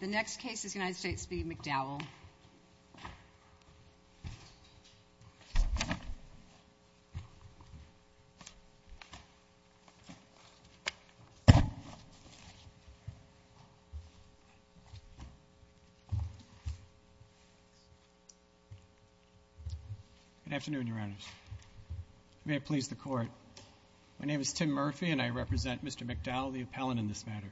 The next case is United States v. McDowell. Good afternoon, Your Honors. May it please the Court. My name is Tim Murphy, and I represent Mr. McDowell, the appellant in this matter.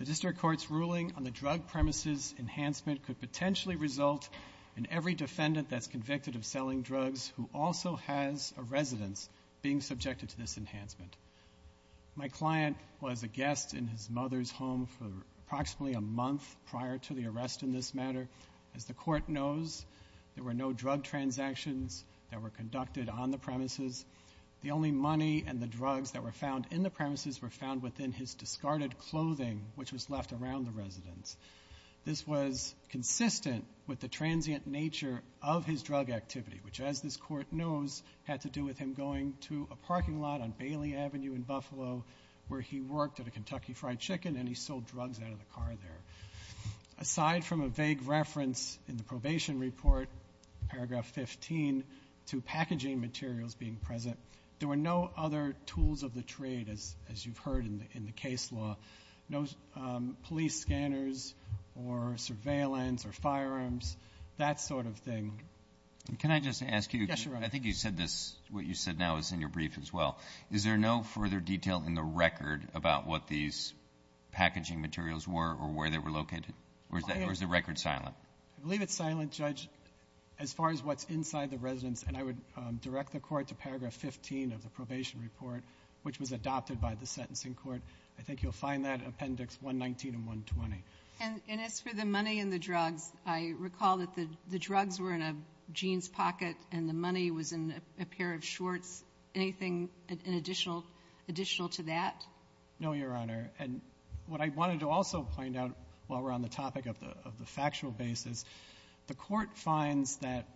The District Court's ruling on the drug premises enhancement could potentially result in every defendant that's convicted of selling drugs who also has a residence being subjected to this enhancement. My client was a guest in his mother's home for approximately a month prior to the arrest in this matter. As the Court knows, there were no drug transactions that were conducted on the premises. The only money and the drugs that were found in the premises were found within his discarded clothing, which was left around the residence. This was consistent with the transient nature of his drug activity, which, as this Court knows, had to do with him going to a parking lot on Bailey Avenue in Buffalo where he worked at a Kentucky Fried Chicken, and he sold drugs out of the car there. Aside from a vague reference in the probation report, paragraph 15, to packaging materials being present, there were no other tools of the trade, as you've heard in the case law, no police scanners or surveillance or firearms, that sort of thing. Can I just ask you? Yes, Your Honor. I think you said this, what you said now is in your brief as well. Is there no further detail in the record about what these packaging materials were or where they were located? I believe it's silent, Judge. As far as what's inside the residence, and I would direct the Court to paragraph 15 of the probation report, which was adopted by the sentencing court. I think you'll find that in Appendix 119 and 120. And as for the money and the drugs, I recall that the drugs were in Gene's pocket and the money was in a pair of shorts. Anything additional to that? No, Your Honor. And what I wanted to also point out while we're on the topic of the factual basis, the Court finds that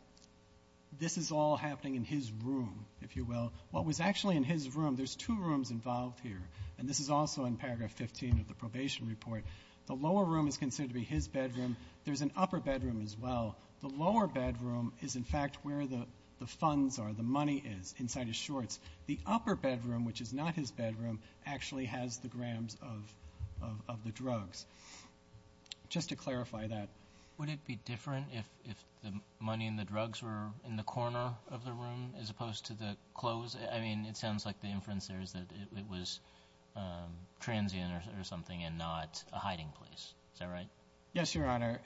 this is all happening in his room, if you will. What was actually in his room, there's two rooms involved here. And this is also in paragraph 15 of the probation report. The lower room is considered to be his bedroom. There's an upper bedroom as well. The lower bedroom is, in fact, where the funds are, the money is, inside his shorts. The upper bedroom, which is not his bedroom, actually has the grams of the drugs. Just to clarify that. Would it be different if the money and the drugs were in the corner of the room as opposed to the clothes? I mean, it sounds like the inference there is that it was transient or something and not a hiding place. Is that right? Yes, Your Honor.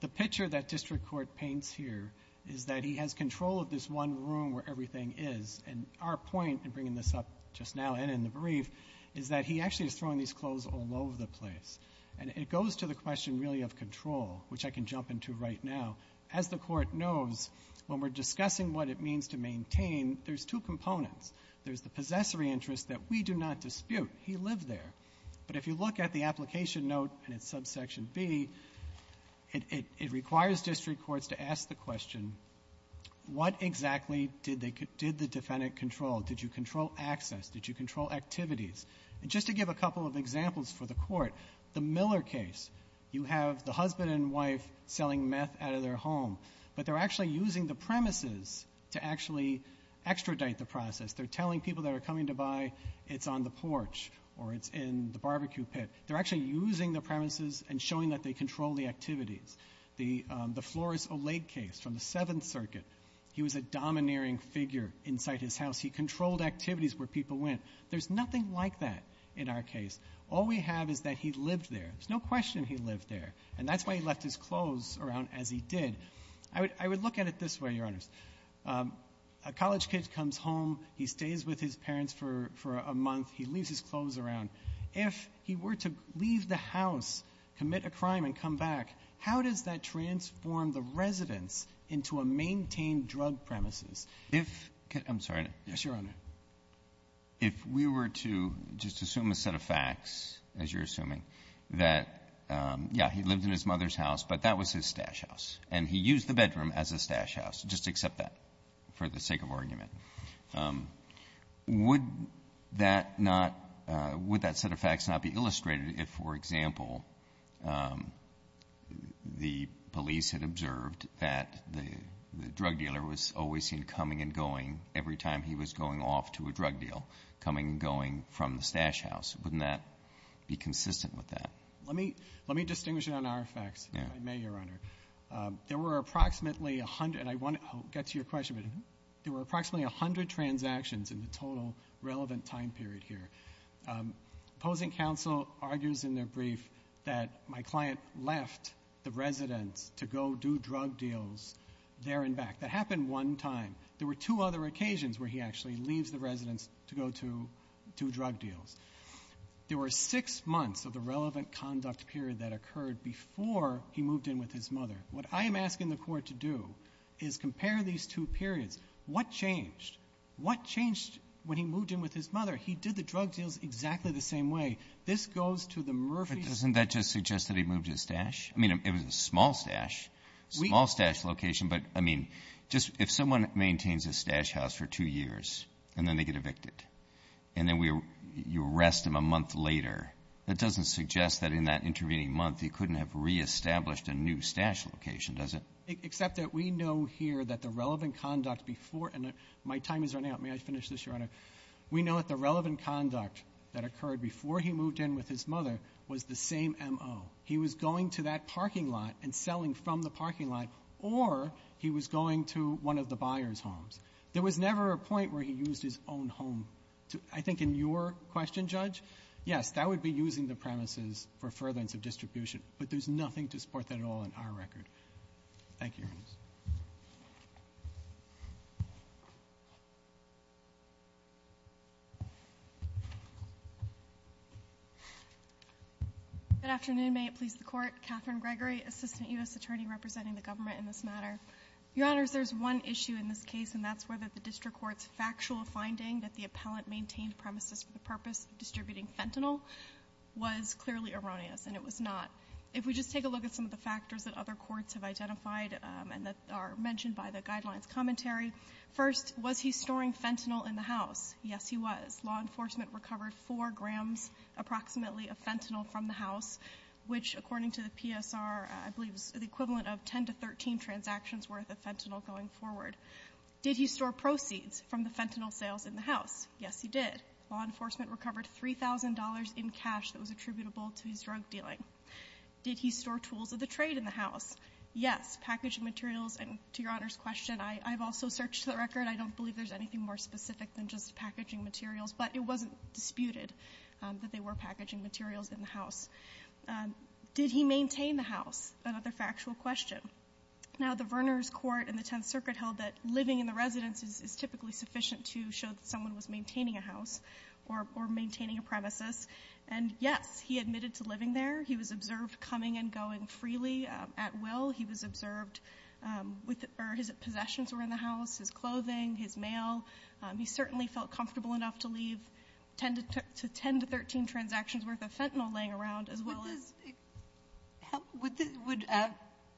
The picture that district court paints here is that he has control of this one room where everything is. And our point in bringing this up just now and in the brief is that he actually is throwing these clothes all over the place. And it goes to the question really of control, which I can jump into right now. As the Court knows, when we're discussing what it means to maintain, there's two components. There's the possessory interest that we do not dispute. He lived there. But if you look at the application note and its subsection B, it requires district courts to ask the question, what exactly did they do, did the defendant control? Did you control access? Did you control activities? And just to give a couple of examples for the Court, the Miller case, you have the husband and wife selling meth out of their home, but they're actually using the premises to actually extradite the process. They're telling people that are coming to buy, it's on the porch or it's in the barbecue pit. They're actually using the premises and showing that they control the activities. The Flores Oleg case from the Seventh Circuit, he was a domineering figure inside his house. He controlled activities where people went. There's nothing like that in our case. All we have is that he lived there. There's no question he lived there. And that's why he left his clothes around as he did. I would look at it this way, Your Honors. A college kid comes home. He stays with his parents for a month. He leaves his clothes around. If he were to leave the house, commit a crime and come back, how does that transform the residence into a maintained drug premises? If — I'm sorry. Yes, Your Honor. If we were to just assume a set of facts, as you're assuming, that, yeah, he lived in his mother's house, but that was his stash house. And he used the bedroom as a stash house. Just accept that for the sake of argument. Would that not — would that set of facts not be illustrated if, for example, the police had observed that the drug dealer was always seen coming and going every time he was going off to a drug deal, coming and going from the stash house? Wouldn't that be consistent with that? Let me distinguish it on our facts, if I may, Your Honor. There were approximately 100 — and I want to get to your question, but there were approximately 100 transactions in the total relevant time period here. Opposing counsel argues in their brief that my client left the residence to go do drug deals there and back. That happened one time. There were two other occasions where he actually leaves the residence to go to do drug deals. There were six months of the relevant conduct period that occurred before he moved in with his mother. What I am asking the Court to do is compare these two periods. What changed? What changed when he moved in with his mother? He did the drug deals exactly the same way. This goes to the Murphy's — But doesn't that just suggest that he moved his stash? I mean, it was a small stash, small stash location. But, I mean, just — if someone maintains a stash house for two years and then they get evicted, and then you arrest them a month later, that doesn't suggest that in that intervening month he couldn't have reestablished a new stash location, does it? Except that we know here that the relevant conduct before — and my time is running out. May I finish this, Your Honor? We know that the relevant conduct that occurred before he moved in with his mother was the same M.O. He was going to that parking lot and selling from the parking lot, or he was going to one of the buyer's homes. There was never a point where he used his own home. I think in your question, Judge, yes, that would be using the premises for furtherance of distribution. But there's nothing to support that at all in our record. Thank you, Your Honor. Ms. Gould. Good afternoon. May it please the Court. Catherine Gregory, assistant U.S. Attorney representing the government in this matter. Your Honors, there's one issue in this case, and that's whether the district court's factual finding that the appellant maintained premises for the purpose of distributing fentanyl was clearly erroneous, and it was not. If we just take a look at some of the factors that other courts have identified and that are mentioned by the guidelines commentary, first, was he storing fentanyl in the house? Yes, he was. Law enforcement recovered 4 grams approximately of fentanyl from the house, which according to the PSR, I believe is the equivalent of 10 to 13 transactions worth of fentanyl going forward. Did he store proceeds from the fentanyl sales in the house? Yes, he did. Law enforcement recovered $3,000 in cash that was attributable to his drug dealing. Did he store tools of the trade in the house? Yes. Packaging materials, and to Your Honors' question, I've also searched the record. I don't believe there's anything more specific than just packaging materials, but it wasn't disputed that they were packaging materials in the house. Did he maintain the house? Another factual question. Now, the Verners Court and the Tenth Circuit held that living in the residence is typically sufficient to show that someone was maintaining a house or maintaining a premises. And yes, he admitted to living there. He was observed coming and going freely at will. He was observed with or his possessions were in the house, his clothing, his mail. He certainly felt comfortable enough to leave 10 to 13 transactions worth of fentanyl laying around, as well as ---- Would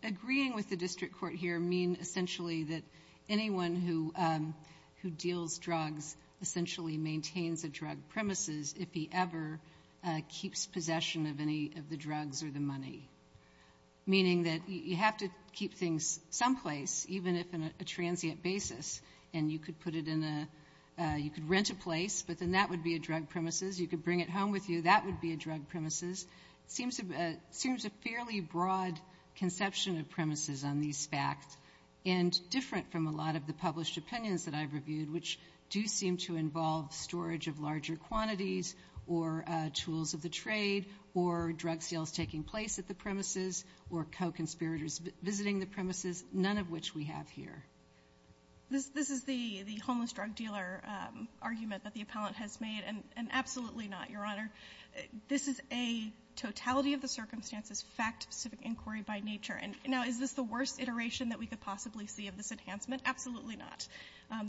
agreeing with the district court here mean essentially that anyone who deals drugs essentially maintains a drug premises if he ever keeps possession of any of the drugs or the money? Meaning that you have to keep things someplace, even if on a transient basis, and you could put it in a ---- you could rent a place, but then that would be a drug premises. You could bring it home with you. That would be a drug premises. It seems a fairly broad conception of premises on these facts and different from a lot of the published opinions that I've reviewed, which do seem to involve storage of taking place at the premises or co-conspirators visiting the premises, none of which we have here. This is the homeless drug dealer argument that the appellant has made, and absolutely not, Your Honor. This is a totality-of-the-circumstances, fact-specific inquiry by nature. And now, is this the worst iteration that we could possibly see of this enhancement? Absolutely not.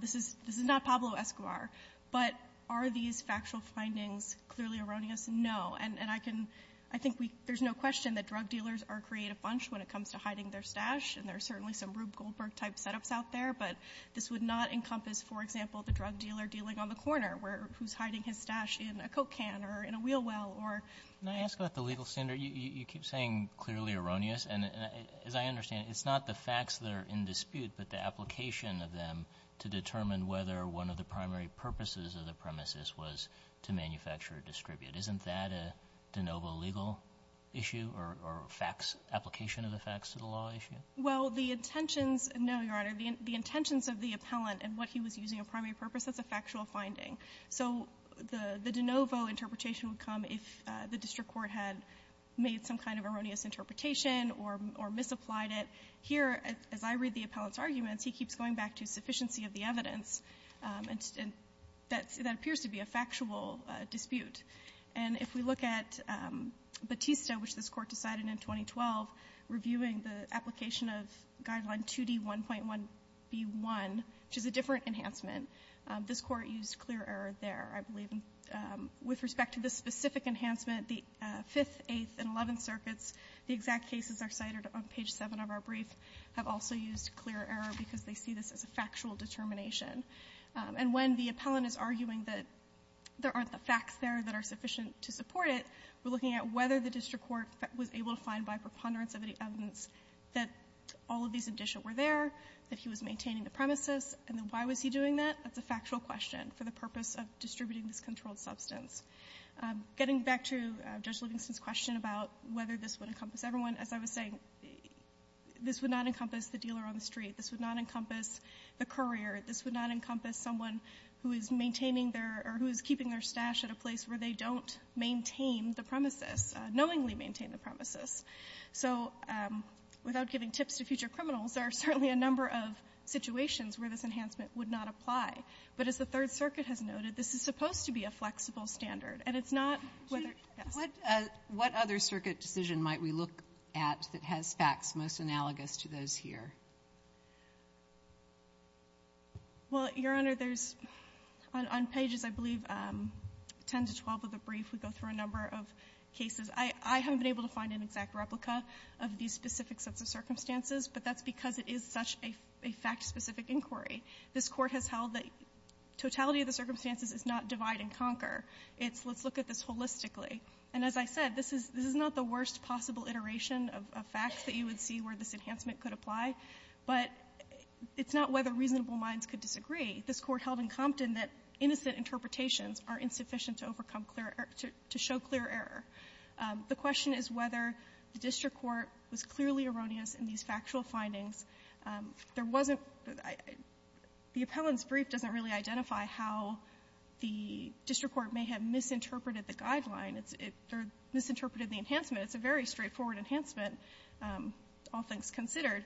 This is not Pablo Escobar. But are these factual findings clearly erroneous? And I can ---- I think we ---- there's no question that drug dealers are a creative bunch when it comes to hiding their stash, and there are certainly some Rube Goldberg type setups out there. But this would not encompass, for example, the drug dealer dealing on the corner where ---- who's hiding his stash in a Coke can or in a wheel well or ---- Can I ask about the legal standard? You keep saying clearly erroneous. And as I understand it, it's not the facts that are in dispute, but the application of them to determine whether one of the primary purposes of the premises was to manufacture or distribute. Isn't that a de novo legal issue or facts, application of the facts to the law issue? Well, the intentions ---- no, Your Honor. The intentions of the appellant and what he was using of primary purpose, that's a factual finding. So the de novo interpretation would come if the district court had made some kind of erroneous interpretation or misapplied it. Here, as I read the appellant's arguments, he keeps going back to sufficiency of the evidence. And that appears to be a factual dispute. And if we look at Batista, which this Court decided in 2012, reviewing the application of Guideline 2D1.1b1, which is a different enhancement, this Court used clear error there, I believe. With respect to this specific enhancement, the Fifth, Eighth, and Eleventh Circuits, the exact cases are cited on page 7 of our brief, have also used clear error because they see this as a factual determination. And when the appellant is arguing that there aren't the facts there that are sufficient to support it, we're looking at whether the district court was able to find by preponderance of the evidence that all of these addition were there, that he was maintaining the premises, and then why was he doing that? That's a factual question for the purpose of distributing this controlled substance. Getting back to Judge Livingston's question about whether this would encompass everyone, as I was saying, this would not encompass the dealer on the street. This would not encompass the courier. This would not encompass someone who is maintaining their or who is keeping their stash at a place where they don't maintain the premises, knowingly maintain the premises. So without giving tips to future criminals, there are certainly a number of situations where this enhancement would not apply. But as the Third Circuit has noted, this is supposed to be a flexible standard. And it's not whether yes. What other circuit decision might we look at that has facts most analogous to those here? Well, Your Honor, there's on pages, I believe, 10 to 12 of the brief, we go through a number of cases. I haven't been able to find an exact replica of these specific sets of circumstances, but that's because it is such a fact-specific inquiry. This Court has held that totality of the circumstances is not divide and conquer. It's let's look at this holistically. And as I said, this is not the worst possible iteration of facts that you would see where this enhancement could apply. But it's not whether reasonable minds could disagree. This Court held in Compton that innocent interpretations are insufficient to overcome clear error, to show clear error. The question is whether the district court was clearly erroneous in these factual findings. There wasn't the appellant's brief doesn't really identify how the district court may have misinterpreted the guideline or misinterpreted the enhancement. It's a very straightforward enhancement, all things considered.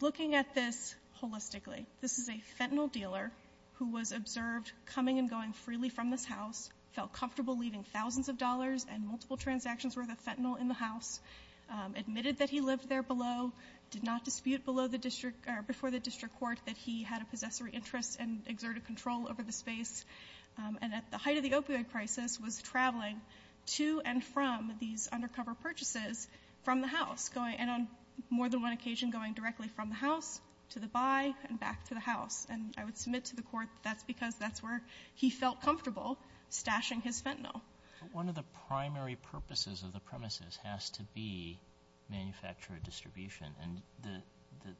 Looking at this holistically, this is a fentanyl dealer who was observed coming and going freely from this house, felt comfortable leaving thousands of dollars and multiple transactions worth of fentanyl in the house, admitted that he lived there below, did not dispute before the district court that he had a possessory interest and exerted control over the space, and at the height of the opioid crisis was traveling to and from these undercover purchases from the house, and on more than one occasion going directly from the house to the buy and back to the house. And I would submit to the Court that's because that's where he felt comfortable stashing his fentanyl. One of the primary purposes of the premises has to be manufacturer distribution. And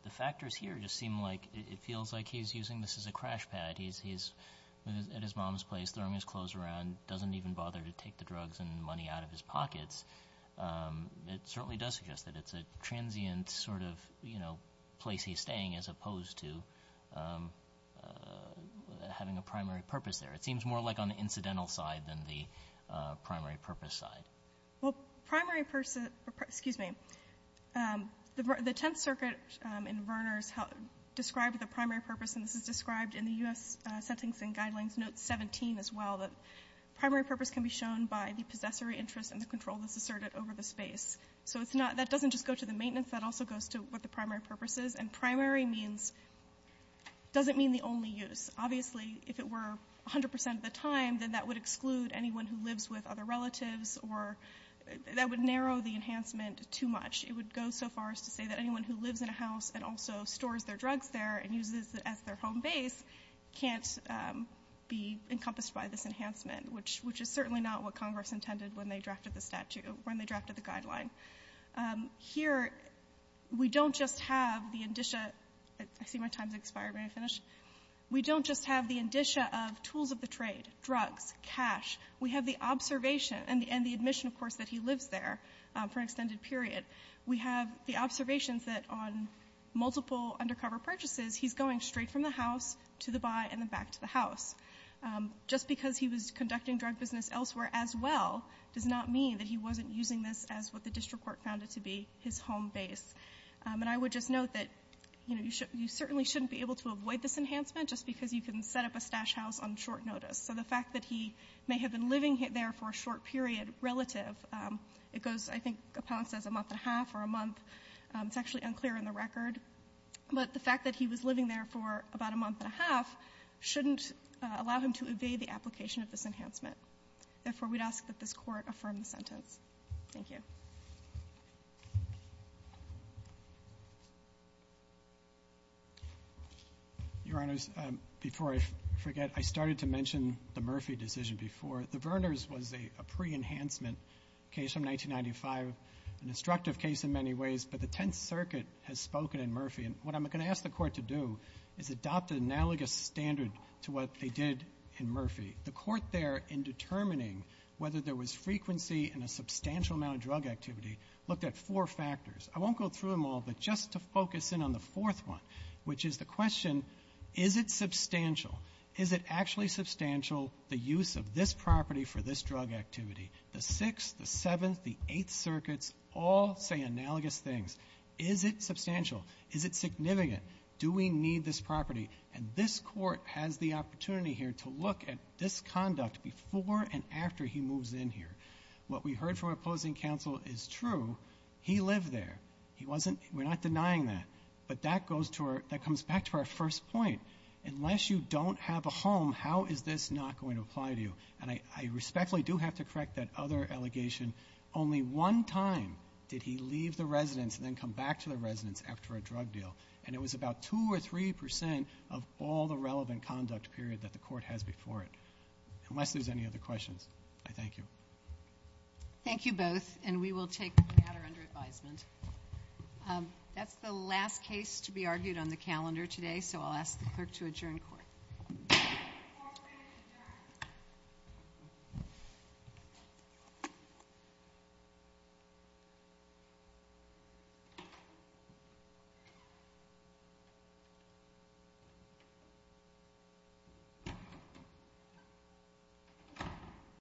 the factors here just seem like it feels like he's using this as a crash pad. He's at his mom's place throwing his clothes around, doesn't even bother to take the drugs and money out of his pockets. It certainly does suggest that it's a transient sort of place he's staying as opposed to having a primary purpose there. It seems more like on the incidental side than the primary purpose side. Well, primary purpose, excuse me. The Tenth Circuit in Verner's described the primary purpose, and this is described in the U.S. Sentencing Guidelines Note 17 as well, that primary purpose can be shown by the possessory interest and the control that's asserted over the space. So it's not, that doesn't just go to the maintenance. That also goes to what the primary purpose is. And primary means, doesn't mean the only use. Obviously, if it were 100 percent of the time, then that would exclude anyone who lives with other relatives or that would narrow the enhancement too much. It would go so far as to say that anyone who lives in a house and also stores their drugs there and uses it as their home base can't be encompassed by this enhancement, which is certainly not what Congress intended when they drafted the statute, when they drafted the guideline. Here, we don't just have the indicia. I see my time's expired. May I finish? We don't just have the indicia of tools of the trade, drugs, cash. We have the observation and the admission, of course, that he lives there for an extended period. We have the observations that on multiple undercover purchases, he's going straight from the house to the buy and then back to the house. Just because he was conducting drug business elsewhere as well does not mean that he wasn't using this as what the district court found it to be, his home base. And I would just note that, you know, you certainly shouldn't be able to avoid this enhancement just because you can set up a stash house on short notice. So the fact that he may have been living there for a short period relative, it goes, I think, upon, it says a month and a half or a month. It's actually unclear in the record. But the fact that he was living there for about a month and a half shouldn't allow him to evade the application of this enhancement. Therefore, we'd ask that this Court affirm the sentence. Thank you. Your Honors, before I forget, I started to mention the Murphy decision before. The Verners was a pre-enhancement case from 1995, an instructive case in many ways. But the Tenth Circuit has spoken in Murphy. And what I'm going to ask the Court to do is adopt an analogous standard to what they did in Murphy. The Court there, in determining whether there was frequency in a substantial amount of drug activity, looked at four factors. I won't go through them all, but just to focus in on the fourth one, which is the question, is it substantial? Is it actually substantial, the use of this property for this drug activity? The Sixth, the Seventh, the Eighth Circuits all say analogous things. Is it substantial? Is it significant? Do we need this property? And this Court has the opportunity here to look at this conduct before and after he moves in here. What we heard from opposing counsel is true. He lived there. We're not denying that. But that comes back to our first point. Unless you don't have a home, how is this not going to apply to you? And I respectfully do have to correct that other allegation. Only one time did he leave the residence and then come back to the residence after a drug deal. And it was about 2% or 3% of all the relevant conduct period that the Court has before it. Unless there's any other questions, I thank you. Thank you both, and we will take the matter under advisement. That's the last case to be argued on the calendar today, so I'll ask the Clerk to adjourn Court. Court is adjourned.